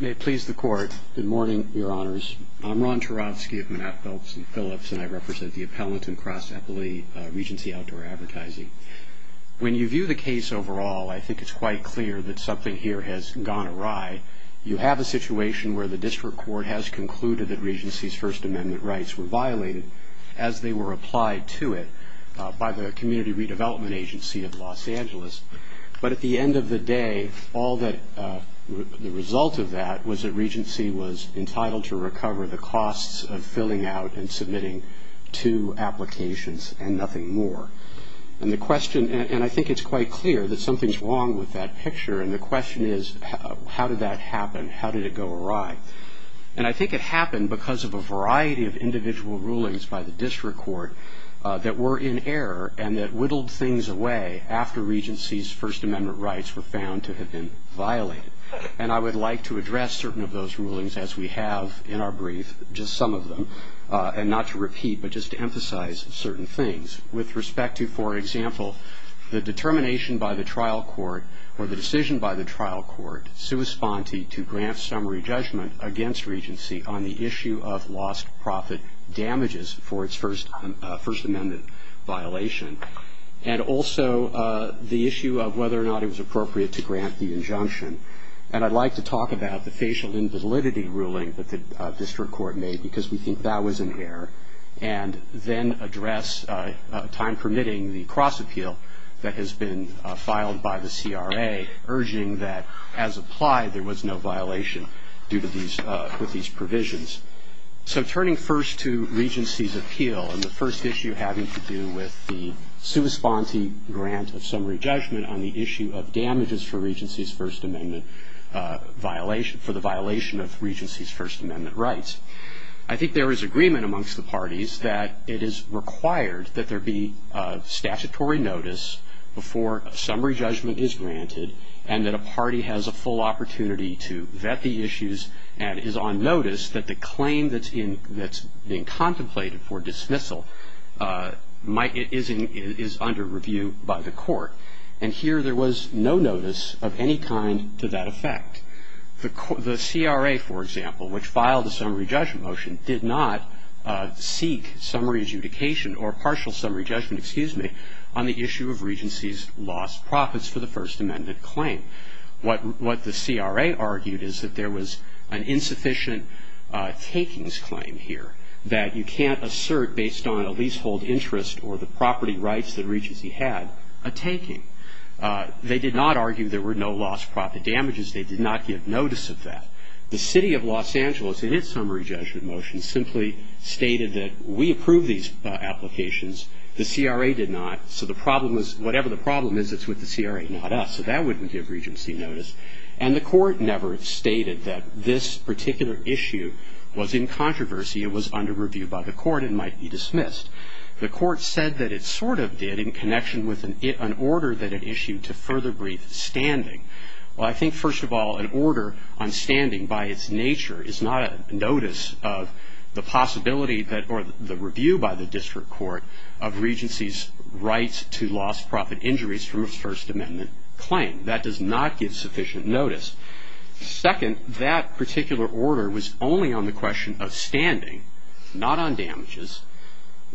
May it please the Court. Good morning, Your Honors. I'm Ron Turovsky of Manatt, Phelps & Phillips, and I represent the Appellant in Cross-Eppley Regency Outdoor Advertising. When you view the case overall, I think it's quite clear that something here has gone awry. You have a situation where the District Court has concluded that Regency's First Amendment rights were violated, as they were applied to it, by the Community Redevelopment Agency of Los Angeles. But at the end of the day, the result of that was that Regency was entitled to recover the costs of filling out and submitting two applications and nothing more. And I think it's quite clear that something's wrong with that picture, and the question is, how did that happen? How did it go awry? And I think it happened because of a variety of individual rulings by the District Court that were in error and that whittled things away after Regency's First Amendment rights were found to have been violated. And I would like to address certain of those rulings, as we have in our brief, just some of them, and not to repeat, but just to emphasize certain things. With respect to, for example, the determination by the trial court, or the decision by the trial court, sui sponte to grant summary judgment against Regency on the issue of lost profit damages for its First Amendment violation, and also the issue of whether or not it was appropriate to grant the injunction. And I'd like to talk about the facial invalidity ruling that the District Court made, because we think that was in error, and then address, time permitting, the cross appeal that has been filed by the CRA, urging that, as applied, there was no violation with these provisions. So turning first to Regency's appeal and the first issue having to do with the sui sponte grant of summary judgment on the issue of damages for the violation of Regency's First Amendment rights. I think there is agreement amongst the parties that it is required that there be statutory notice before summary judgment is granted, and that a party has a full opportunity to vet the issues, and is on notice that the claim that's being contemplated for dismissal is under review by the court. And here there was no notice of any kind to that effect. The CRA, for example, which filed a summary judgment motion, did not seek summary adjudication or partial summary judgment, excuse me, on the issue of Regency's lost profits for the First Amendment claim. What the CRA argued is that there was an insufficient takings claim here, that you can't assert based on a leasehold interest or the property rights that Regency had a taking. They did not argue there were no lost profit damages. They did not give notice of that. The City of Los Angeles, in its summary judgment motion, simply stated that we approve these applications. The CRA did not. So the problem is, whatever the problem is, it's with the CRA, not us. So that wouldn't give Regency notice. And the court never stated that this particular issue was in controversy. It was under review by the court and might be dismissed. The court said that it sort of did in connection with an order that it issued to further brief standing. Well, I think, first of all, an order on standing by its nature is not a notice of the possibility that or the review by the district court of Regency's rights to lost profit injuries from a First Amendment claim. That does not give sufficient notice. Second, that particular order was only on the question of standing, not on damages.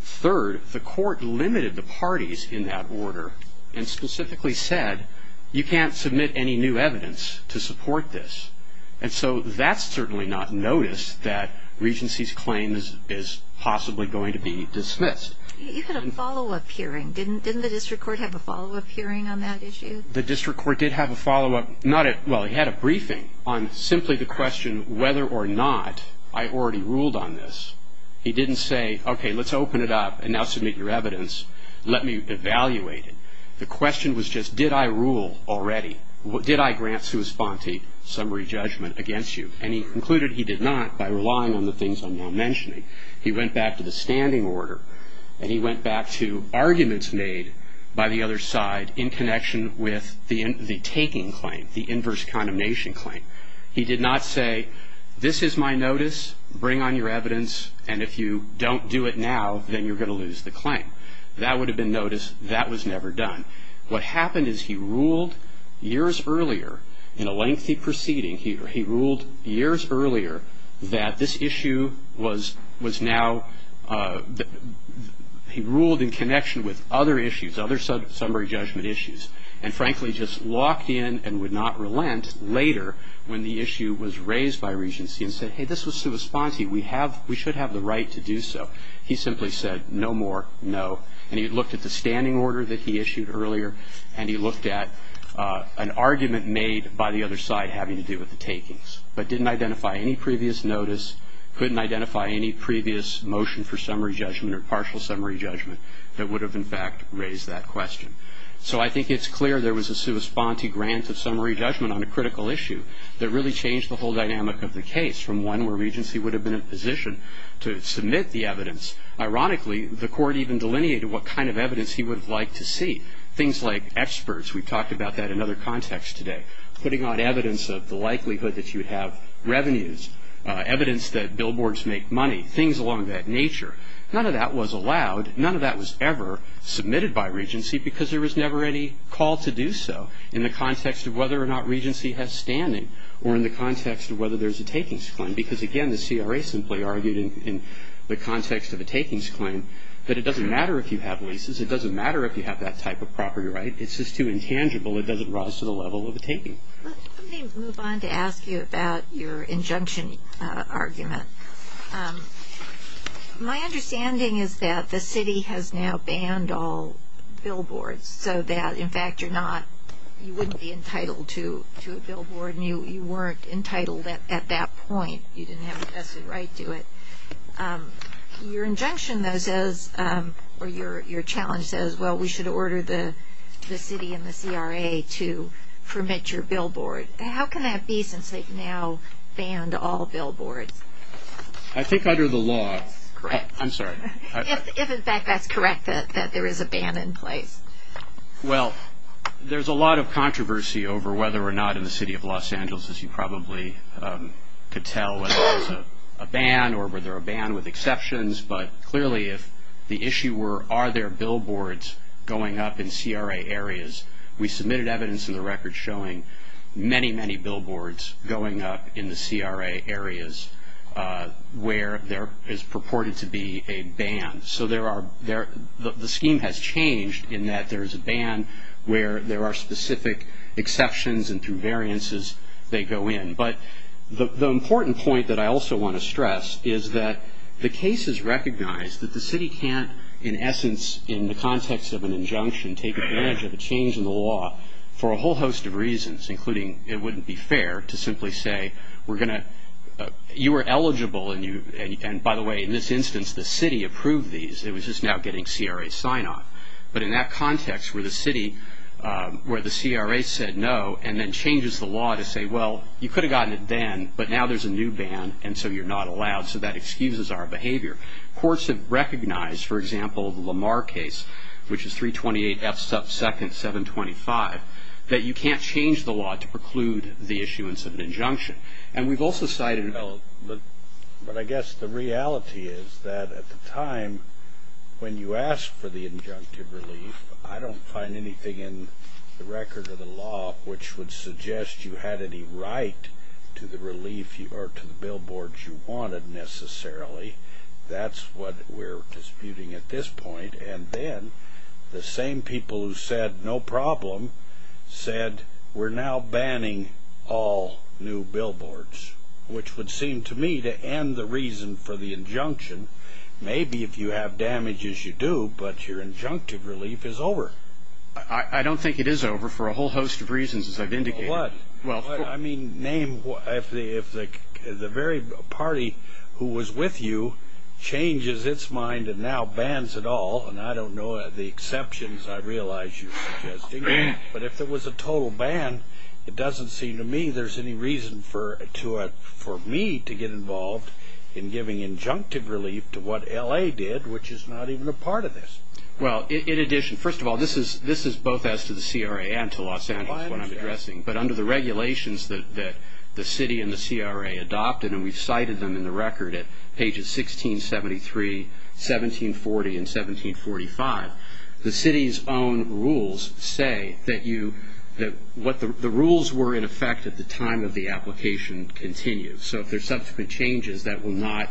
Third, the court limited the parties in that order and specifically said you can't submit any new evidence to support this. And so that's certainly not notice that Regency's claim is possibly going to be dismissed. You had a follow-up hearing. Didn't the district court have a follow-up hearing on that issue? The district court did have a follow-up. Well, he had a briefing on simply the question whether or not I already ruled on this. He didn't say, okay, let's open it up and now submit your evidence. Let me evaluate it. The question was just did I rule already? Did I grant sui sponte summary judgment against you? And he concluded he did not by relying on the things I'm now mentioning. He went back to the standing order and he went back to arguments made by the other side in connection with the taking claim, the inverse condemnation claim. He did not say this is my notice, bring on your evidence, and if you don't do it now then you're going to lose the claim. That would have been notice. That was never done. What happened is he ruled years earlier in a lengthy proceeding, he ruled years earlier that this issue was now he ruled in connection with other issues, other summary judgment issues, and frankly just locked in and would not relent later when the issue was raised by Regency and said, hey, this was sui sponte. We should have the right to do so. He simply said no more, no. And he looked at the standing order that he issued earlier and he looked at an argument made by the other side having to do with the takings but didn't identify any previous notice, couldn't identify any previous motion for summary judgment or partial summary judgment that would have, in fact, raised that question. So I think it's clear there was a sui sponte grant of summary judgment on a critical issue that really changed the whole dynamic of the case from one where Regency would have been in a position to submit the evidence. Ironically, the court even delineated what kind of evidence he would have liked to see, things like experts, we've talked about that in other contexts today, putting on evidence of the likelihood that you would have revenues, evidence that billboards make money, things along that nature. None of that was allowed. None of that was ever submitted by Regency because there was never any call to do so in the context of whether or not Regency has standing or in the context of whether there's a takings claim. Because, again, the CRA simply argued in the context of a takings claim that it doesn't matter if you have leases, it doesn't matter if you have that type of property right, it's just too intangible, it doesn't rise to the level of a taking. Let me move on to ask you about your injunction argument. My understanding is that the city has now banned all billboards so that, in fact, you're not, you wouldn't be entitled to a billboard and you weren't entitled at that point. You didn't have a vested right to it. Your injunction, though, says, or your challenge says, well, we should order the city and the CRA to permit your billboard. How can that be since they've now banned all billboards? I think under the law. That's correct. I'm sorry. If, in fact, that's correct, that there is a ban in place. Well, there's a lot of controversy over whether or not in the city of Los Angeles, as you probably could tell, whether there's a ban or whether a ban with exceptions, but clearly if the issue were are there billboards going up in CRA areas, we submitted evidence in the record showing many, many billboards going up in the CRA areas where there is purported to be a ban. So there are, the scheme has changed in that there is a ban where there are specific exceptions and through variances they go in. But the important point that I also want to stress is that the case is recognized that the city can't, in essence, in the context of an injunction, take advantage of a change in the law for a whole host of reasons, including it wouldn't be fair to simply say we're going to, you were eligible and by the way in this instance the city approved these. It was just now getting CRA sign-off. But in that context where the city, where the CRA said no and then changes the law to say, well, you could have gotten it then, but now there's a new ban and so you're not allowed. So that excuses our behavior. Courts have recognized, for example, the Lamar case, which is 328 F sub second 725, that you can't change the law to preclude the issuance of an injunction. And we've also cited... But I guess the reality is that at the time when you asked for the injunctive relief, I don't find anything in the record of the law which would suggest you had any right to the relief or to the billboards you wanted necessarily. That's what we're disputing at this point. And then the same people who said no problem said we're now banning all new billboards, which would seem to me to end the reason for the injunction. Maybe if you have damages you do, but your injunctive relief is over. I don't think it is over for a whole host of reasons as I've indicated. I mean, if the very party who was with you changes its mind and now bans it all, and I don't know the exceptions I realize you're suggesting, but if it was a total ban, it doesn't seem to me there's any reason for me to get involved in giving injunctive relief to what L.A. did, which is not even a part of this. Well, in addition, first of all, this is both as to the CRA and to Los Angeles what I'm addressing, but under the regulations that the city and the CRA adopted, and we've cited them in the record at pages 1673, 1740, and 1745, the city's own rules say that the rules were in effect at the time of the application continues. So if there's subsequent changes, that will not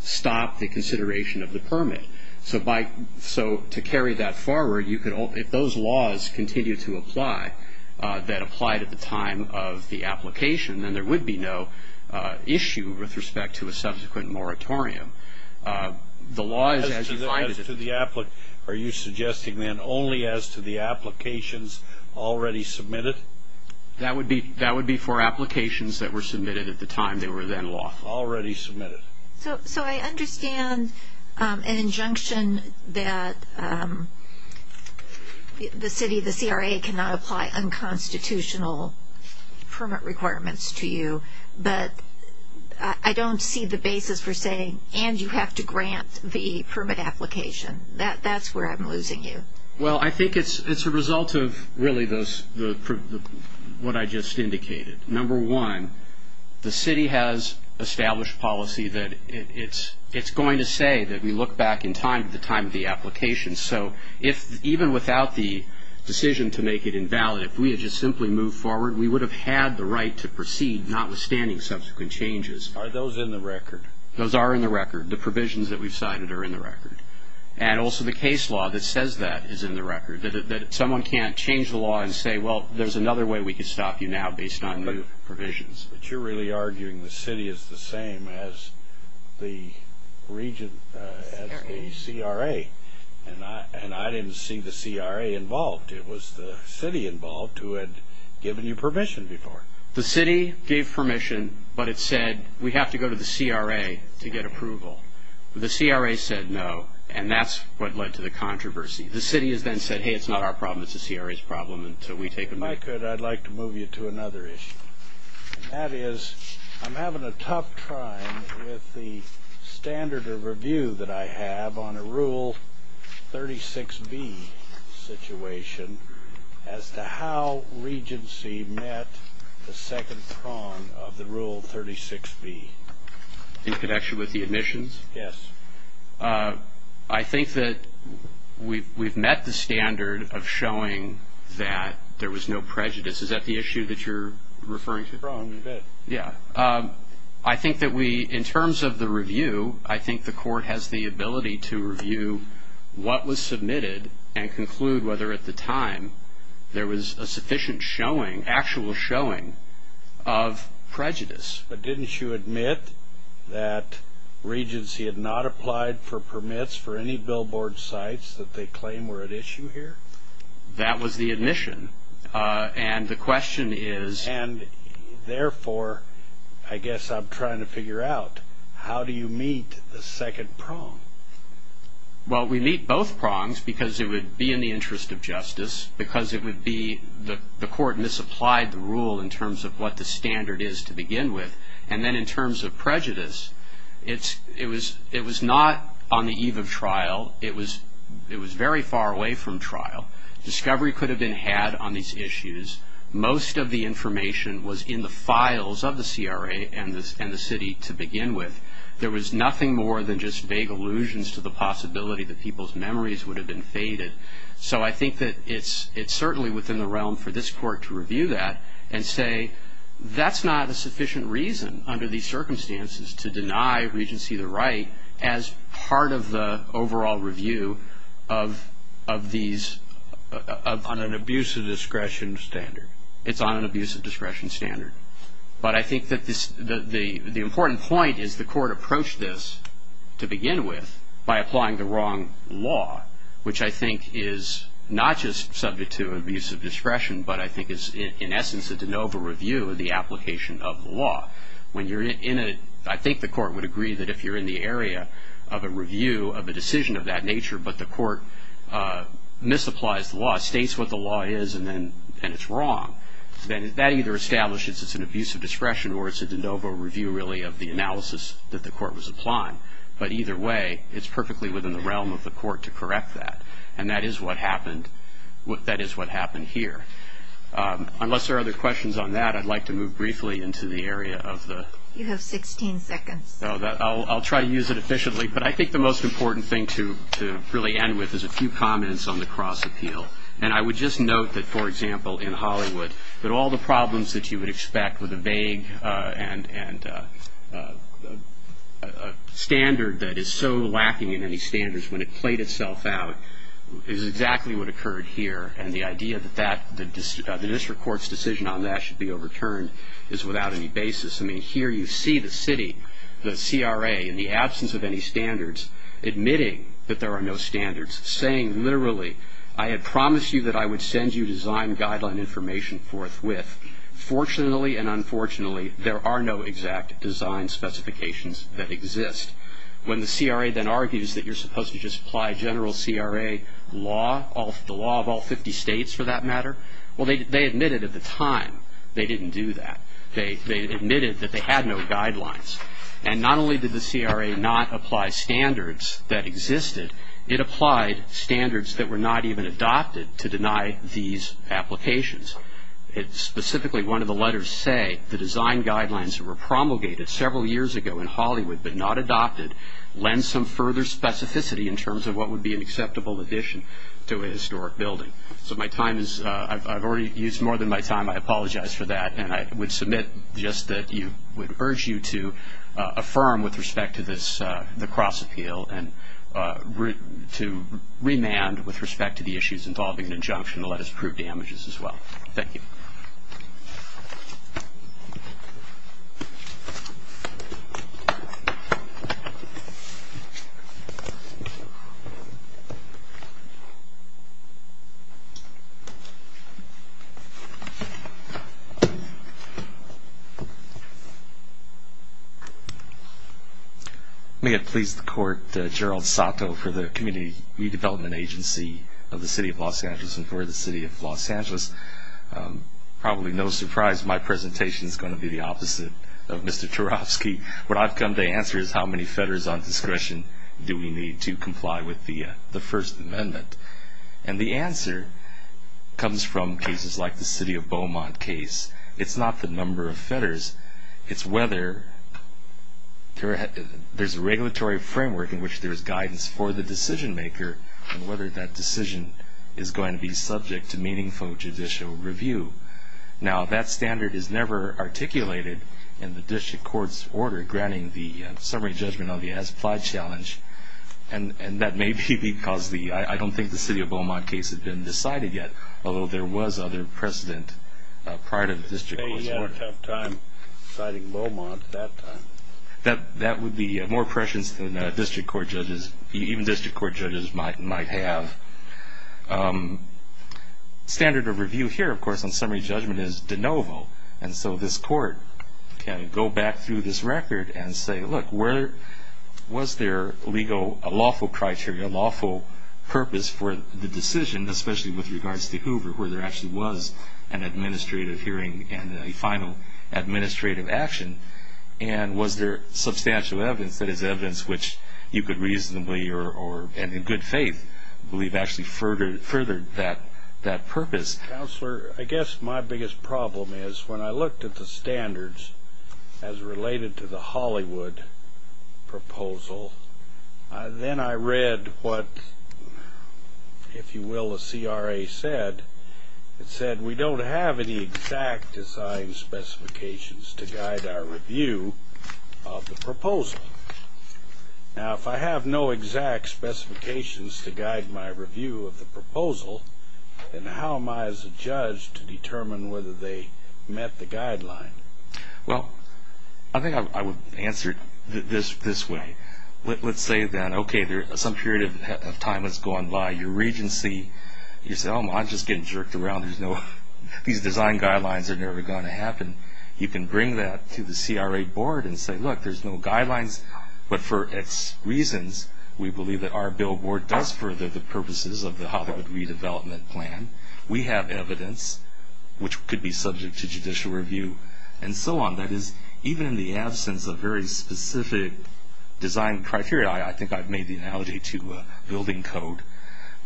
stop the consideration of the permit. So to carry that forward, if those laws continue to apply that applied at the time of the application, then there would be no issue with respect to a subsequent moratorium. The law is as you find it. Are you suggesting then only as to the applications already submitted? That would be for applications that were submitted at the time they were then law. Already submitted. So I understand an injunction that the city, the CRA, cannot apply unconstitutional permit requirements to you, but I don't see the basis for saying, and you have to grant the permit application. That's where I'm losing you. Well, I think it's a result of really what I just indicated. Number one, the city has established policy that it's going to say that we look back in time at the time of the application. So even without the decision to make it invalid, if we had just simply moved forward, we would have had the right to proceed notwithstanding subsequent changes. Are those in the record? Those are in the record. The provisions that we've cited are in the record. And also the case law that says that is in the record, that someone can't change the law and say, well, there's another way we can stop you now based on new provisions. But you're really arguing the city is the same as the region, as the CRA. And I didn't see the CRA involved. It was the city involved who had given you permission before. The city gave permission, but it said we have to go to the CRA to get approval. The CRA said no, and that's what led to the controversy. The city has then said, hey, it's not our problem, it's the CRA's problem, and so we take them back. If I could, I'd like to move you to another issue, and that is I'm having a tough time with the standard of review that I have on a Rule 36B situation as to how Regency met the second prong of the Rule 36B. In connection with the admissions? Yes. I think that we've met the standard of showing that there was no prejudice. Is that the issue that you're referring to? Prong, yes. Yeah. I think that we, in terms of the review, I think the court has the ability to review what was submitted and conclude whether at the time there was a sufficient showing, actual showing, of prejudice. But didn't you admit that Regency had not applied for permits for any billboard sites that they claimed were at issue here? That was the admission. And the question is? And therefore, I guess I'm trying to figure out, how do you meet the second prong? Well, we meet both prongs because it would be in the interest of justice, because it would be the court misapplied the rule in terms of what the standard is to begin with. And then in terms of prejudice, it was not on the eve of trial. It was very far away from trial. Discovery could have been had on these issues. Most of the information was in the files of the CRA and the city to begin with. There was nothing more than just vague allusions to the possibility that people's memories would have been faded. So I think that it's certainly within the realm for this court to review that and say that's not a sufficient reason under these circumstances to deny Regency the right as part of the overall review of these on an abuse of discretion standard. It's on an abuse of discretion standard. But I think that the important point is the court approached this to begin with by applying the wrong law, which I think is not just subject to abuse of discretion, but I think is in essence a de novo review of the application of the law. I think the court would agree that if you're in the area of a review of a decision of that nature but the court misapplies the law, states what the law is and it's wrong, then that either establishes it's an abuse of discretion or it's a de novo review really of the analysis that the court was applying. But either way, it's perfectly within the realm of the court to correct that. And that is what happened here. Unless there are other questions on that, I'd like to move briefly into the area of the... You have 16 seconds. I'll try to use it efficiently. But I think the most important thing to really end with is a few comments on the cross appeal. And I would just note that, for example, in Hollywood, that all the problems that you would expect with a vague standard that is so lacking in any standards when it played itself out is exactly what occurred here. And the idea that the district court's decision on that should be overturned is without any basis. I mean, here you see the city, the CRA, in the absence of any standards, admitting that there are no standards, saying literally, I had promised you that I would send you design guideline information forthwith. Fortunately and unfortunately, there are no exact design specifications that exist. When the CRA then argues that you're supposed to just apply general CRA law, the law of all 50 states for that matter, well, they admitted at the time they didn't do that. They admitted that they had no guidelines. And not only did the CRA not apply standards that existed, it applied standards that were not even adopted to deny these applications. Specifically, one of the letters say, the design guidelines that were promulgated several years ago in Hollywood but not adopted lend some further specificity in terms of what would be an acceptable addition to a historic building. So I've already used more than my time. I apologize for that. And I would submit just that I would urge you to affirm with respect to the cross appeal and to remand with respect to the issues involving an injunction to let us prove damages as well. Thank you. Thank you. May it please the Court, Gerald Sato for the Community Redevelopment Agency of the City of Los Angeles Probably no surprise my presentation is going to be the opposite of Mr. Tarofsky. What I've come to answer is how many fetters on discretion do we need to comply with the First Amendment? And the answer comes from cases like the city of Beaumont case. It's not the number of fetters. It's whether there's a regulatory framework in which there is guidance for the decision maker and whether that decision is going to be subject to meaningful judicial review. Now that standard is never articulated in the district court's order granting the summary judgment on the as-applied challenge. And that may be because I don't think the city of Beaumont case has been decided yet, although there was other precedent prior to the district court's order. They had a tough time deciding Beaumont that time. That would be more prescience than district court judges, even district court judges, might have. Standard of review here, of course, on summary judgment is de novo. And so this court can go back through this record and say, look, was there a lawful criteria, a lawful purpose for the decision, especially with regards to Hoover, where there actually was an administrative hearing and a final administrative action? And was there substantial evidence that is evidence which you could reasonably or in good faith believe actually furthered that purpose? Counselor, I guess my biggest problem is when I looked at the standards as related to the Hollywood proposal, then I read what, if you will, the CRA said. It said we don't have any exact design specifications to guide our review of the proposal. Now, if I have no exact specifications to guide my review of the proposal, then how am I as a judge to determine whether they met the guideline? Well, I think I would answer it this way. Let's say then, okay, some period of time has gone by. Your regency, you say, oh, I'm just getting jerked around. These design guidelines are never going to happen. You can bring that to the CRA board and say, look, there's no guidelines. But for its reasons, we believe that our billboard does further the purposes of the Hollywood redevelopment plan. We have evidence which could be subject to judicial review and so on. That is, even in the absence of very specific design criteria, I think I've made the analogy to building code.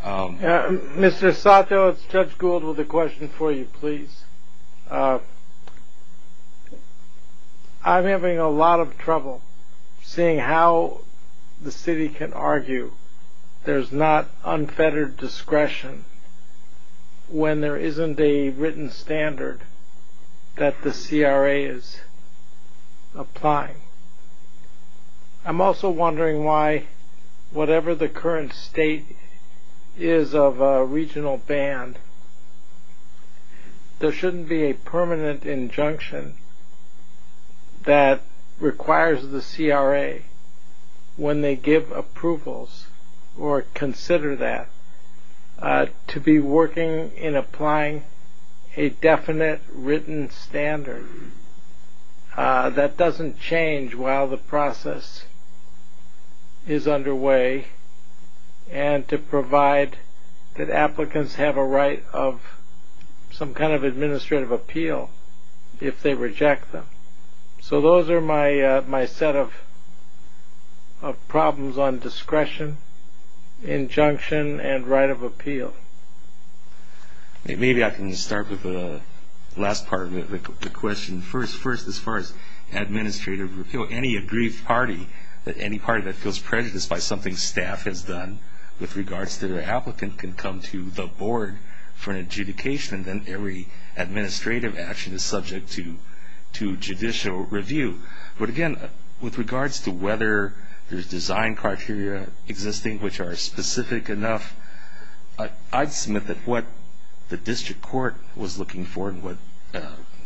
Mr. Sato, it's Judge Gould with a question for you, please. I'm having a lot of trouble seeing how the city can argue there's not unfettered discretion when there isn't a written standard that the CRA is applying. I'm also wondering why whatever the current state is of a regional band, there shouldn't be a permanent injunction that requires the CRA, when they give approvals or consider that, to be working in applying a definite written standard. That doesn't change while the process is underway, and to provide that applicants have a right of some kind of administrative appeal if they reject them. So those are my set of problems on discretion, injunction, and right of appeal. Maybe I can start with the last part of the question. First, as far as administrative appeal, any aggrieved party, any party that feels prejudiced by something staff has done, with regards to their applicant, can come to the board for an adjudication, and then every administrative action is subject to judicial review. But again, with regards to whether there's design criteria existing which are specific enough, I'd submit that what the district court was looking for and what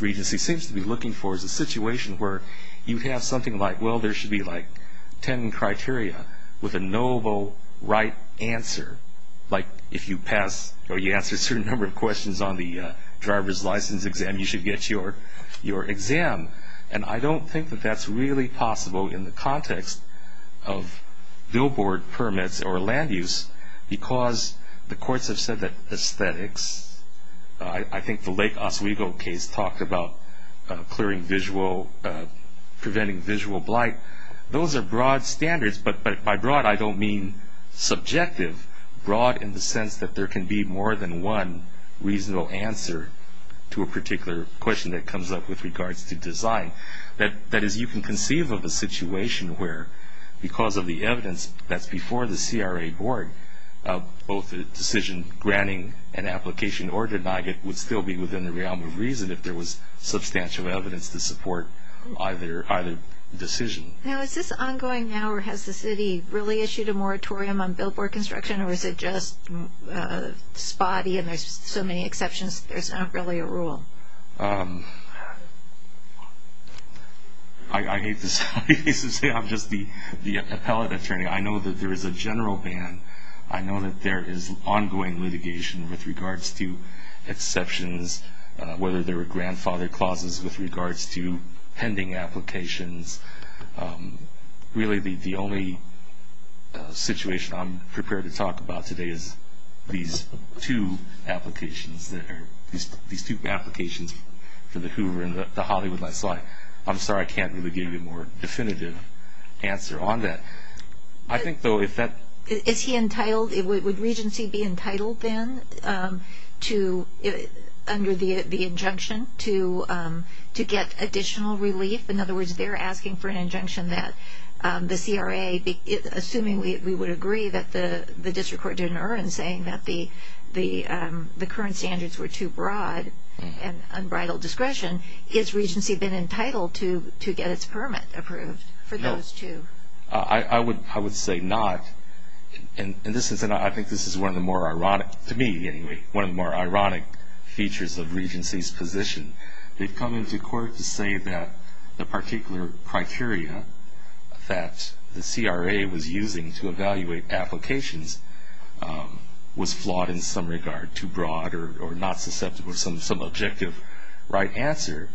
Regency seems to be looking for is a situation where you have something like, well, there should be like 10 criteria with a noble right answer. Like if you pass or you answer a certain number of questions on the driver's license exam, you should get your exam. And I don't think that that's really possible in the context of billboard permits or land use, because the courts have said that aesthetics, I think the Lake Oswego case talked about preventing visual blight. Those are broad standards, but by broad I don't mean subjective, broad in the sense that there can be more than one reasonable answer to a particular question that comes up with regards to design. That is, you can conceive of a situation where, because of the evidence that's before the CRA board, both the decision granting an application or denying it would still be within the realm of reason if there was substantial evidence to support either decision. Now, is this ongoing now, or has the city really issued a moratorium on billboard construction, or is it just spotty and there's so many exceptions there's not really a rule? I hate to say this, I'm just the appellate attorney. I know that there is a general ban. I know that there is ongoing litigation with regards to exceptions, whether there were grandfather clauses with regards to pending applications. Really the only situation I'm prepared to talk about today is these two applications there, these two applications for the Hoover and the Hollywood last slide. I'm sorry, I can't really give you a more definitive answer on that. I think, though, if that... Is he entitled, would Regency be entitled then to, under the injunction, to get additional relief? In other words, they're asking for an injunction that the CRA, assuming we would agree that the district court didn't earn, saying that the current standards were too broad and unbridled discretion, has Regency been entitled to get its permit approved for those two? I would say not. I think this is one of the more ironic, to me anyway, one of the more ironic features of Regency's position. They've come into court to say that the particular criteria that the CRA was using to evaluate applications was flawed in some regard, too broad or not susceptible to some objective right answer.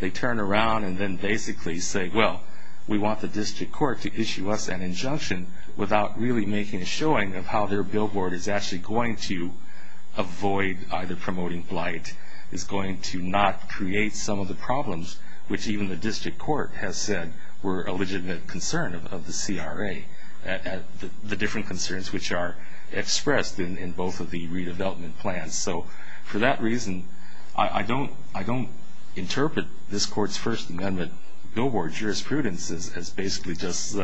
They turn around and then basically say, well, we want the district court to issue us an injunction without really making a showing of how their billboard is actually going to avoid either promoting blight, is going to not create some of the problems which even the district court has said were a legitimate concern of the CRA, the different concerns which are expressed in both of the redevelopment plans. So for that reason, I don't interpret this court's First Amendment billboard jurisprudence as basically just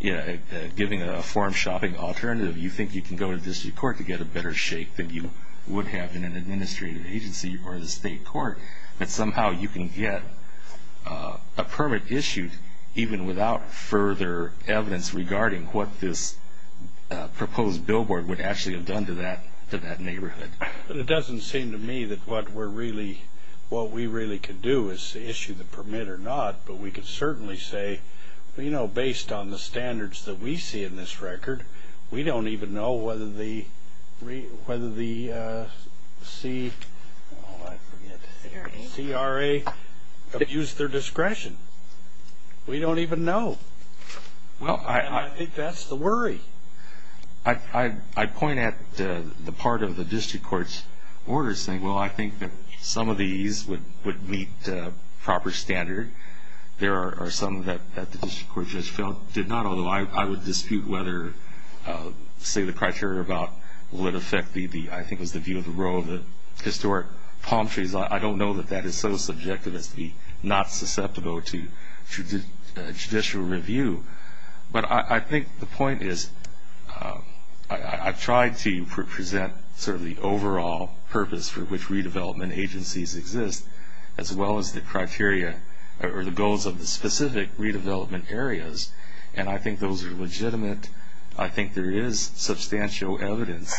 giving a form-shopping alternative. You think you can go to district court to get a better shake than you would have in an administrative agency or the state court, but somehow you can get a permit issued even without further evidence regarding what this proposed billboard would actually have done to that neighborhood. It doesn't seem to me that what we really could do is issue the permit or not, but we could certainly say, you know, based on the standards that we see in this record, we don't even know whether the CRA abused their discretion. We don't even know. And I think that's the worry. I point at the part of the district court's order saying, well, I think that some of these would meet proper standard. There are some that the district court just did not, although I would dispute whether, say, the criteria about would affect the view of the role of the historic palm trees. I don't know that that is so subjective as to be not susceptible to judicial review. But I think the point is I've tried to present sort of the overall purpose for which redevelopment agencies exist, as well as the criteria or the goals of the specific redevelopment areas. And I think those are legitimate. I think there is substantial evidence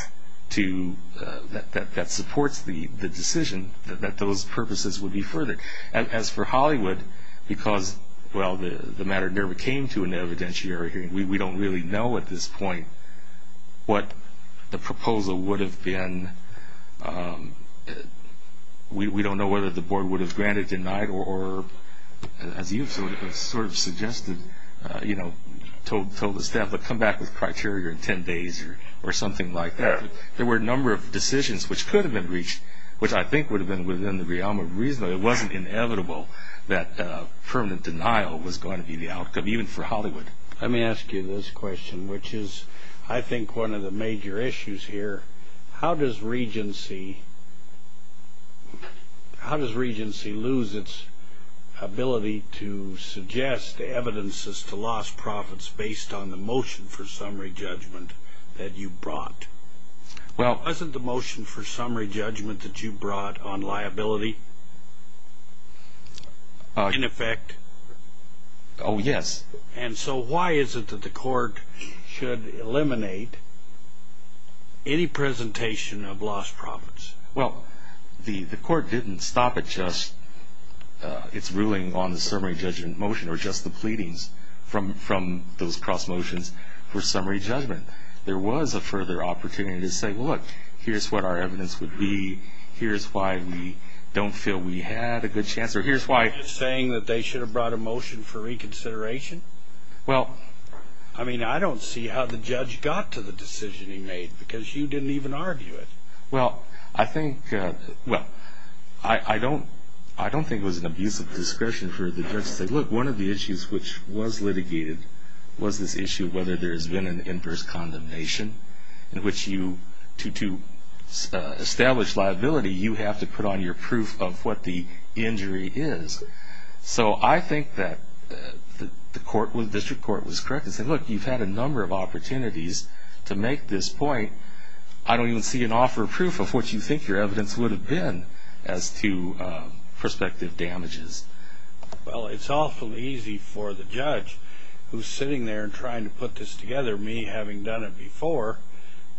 that supports the decision that those purposes would be furthered. As for Hollywood, because, well, the matter never came to an evidentiary hearing, we don't really know at this point what the proposal would have been. We don't know whether the board would have granted, denied, or as you sort of suggested, told the staff, but come back with criteria in 10 days or something like that. There were a number of decisions which could have been reached, which I think would have been within the realm of reason. It wasn't inevitable that permanent denial was going to be the outcome, even for Hollywood. Let me ask you this question, which is I think one of the major issues here. How does Regency lose its ability to suggest evidences to lost profits based on the motion for summary judgment that you brought? Wasn't the motion for summary judgment that you brought on liability in effect? Oh, yes. And so why is it that the court should eliminate any presentation of lost profits? Well, the court didn't stop at just its ruling on the summary judgment motion or just the pleadings from those cross motions for summary judgment. There was a further opportunity to say, well, look, here's what our evidence would be. Here's why we don't feel we had a good chance, or here's why. Are you saying that they should have brought a motion for reconsideration? Well, I mean, I don't see how the judge got to the decision he made because you didn't even argue it. Well, I think, well, I don't think it was an abuse of discretion for the judge to say, look, one of the issues which was litigated was this issue of whether there's been an inverse condemnation in which you, to establish liability, you have to put on your proof of what the injury is. So I think that the district court was correct and said, look, you've had a number of opportunities to make this point. I don't even see an offer of proof of what you think your evidence would have been as to prospective damages. Well, it's awfully easy for the judge who's sitting there trying to put this together, me having done it before,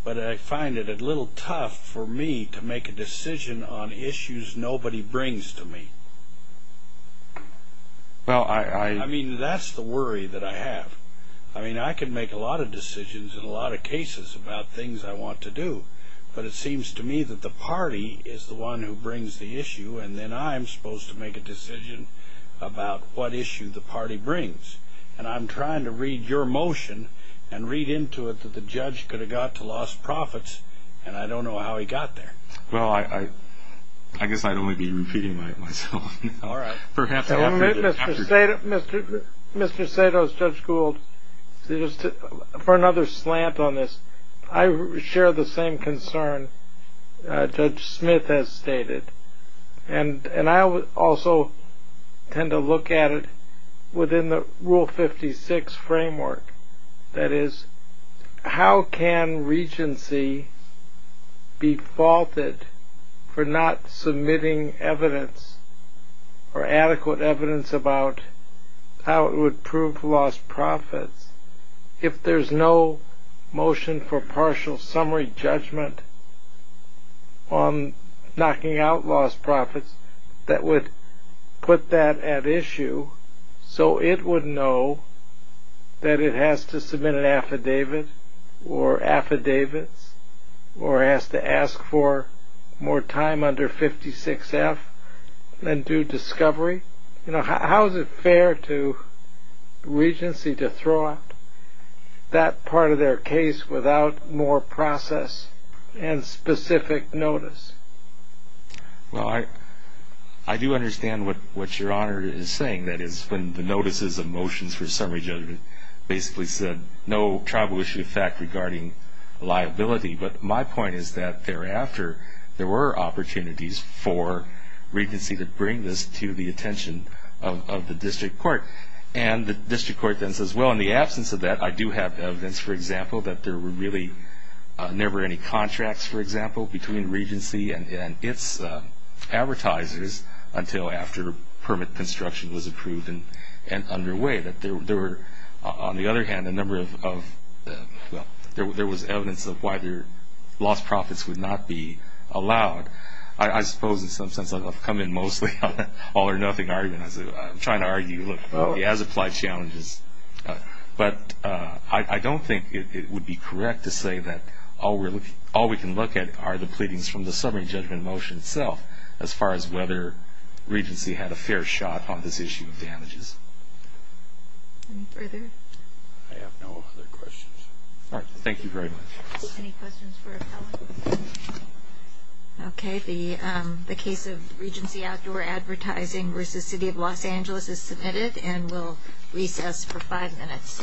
but I find it a little tough for me to make a decision on issues nobody brings to me. I mean, that's the worry that I have. I mean, I can make a lot of decisions in a lot of cases about things I want to do, but it seems to me that the party is the one who brings the issue, and then I'm supposed to make a decision about what issue the party brings. And I'm trying to read your motion and read into it that the judge could have got to lost profits, and I don't know how he got there. Well, I guess I'd only be repeating myself now. All right. Mr. Sato's, Judge Gould, for another slant on this, I share the same concern Judge Smith has stated, and I also tend to look at it within the Rule 56 framework. That is, how can regency be faulted for not submitting evidence or adequate evidence about how it would prove lost profits if there's no motion for partial summary judgment on knocking out lost profits that would put that at issue so it would know that it has to submit an affidavit or affidavits or has to ask for more time under 56F than due discovery? You know, how is it fair to regency to throw out that part of their case without more process and specific notice? Well, I do understand what Your Honor is saying. That is, when the notices of motions for summary judgment basically said no tribal issue of fact regarding liability, but my point is that thereafter there were opportunities for regency to bring this to the attention of the district court. And the district court then says, well, in the absence of that, I do have evidence, for example, that there were really never any contracts, for example, between regency and its advertisers until after permit construction was approved and underway. That there were, on the other hand, a number of, well, there was evidence of why their lost profits would not be allowed. I suppose in some sense I've come in mostly on the all or nothing argument. I'm trying to argue, look, it has applied challenges, but I don't think it would be correct to say that all we can look at are the pleadings from the summary judgment motion itself as far as whether regency had a fair shot on this issue of damages. Any further? I have no other questions. All right. Thank you very much. Any questions for appellant? Okay. The case of Regency Outdoor Advertising v. City of Los Angeles is submitted and we'll recess for five minutes.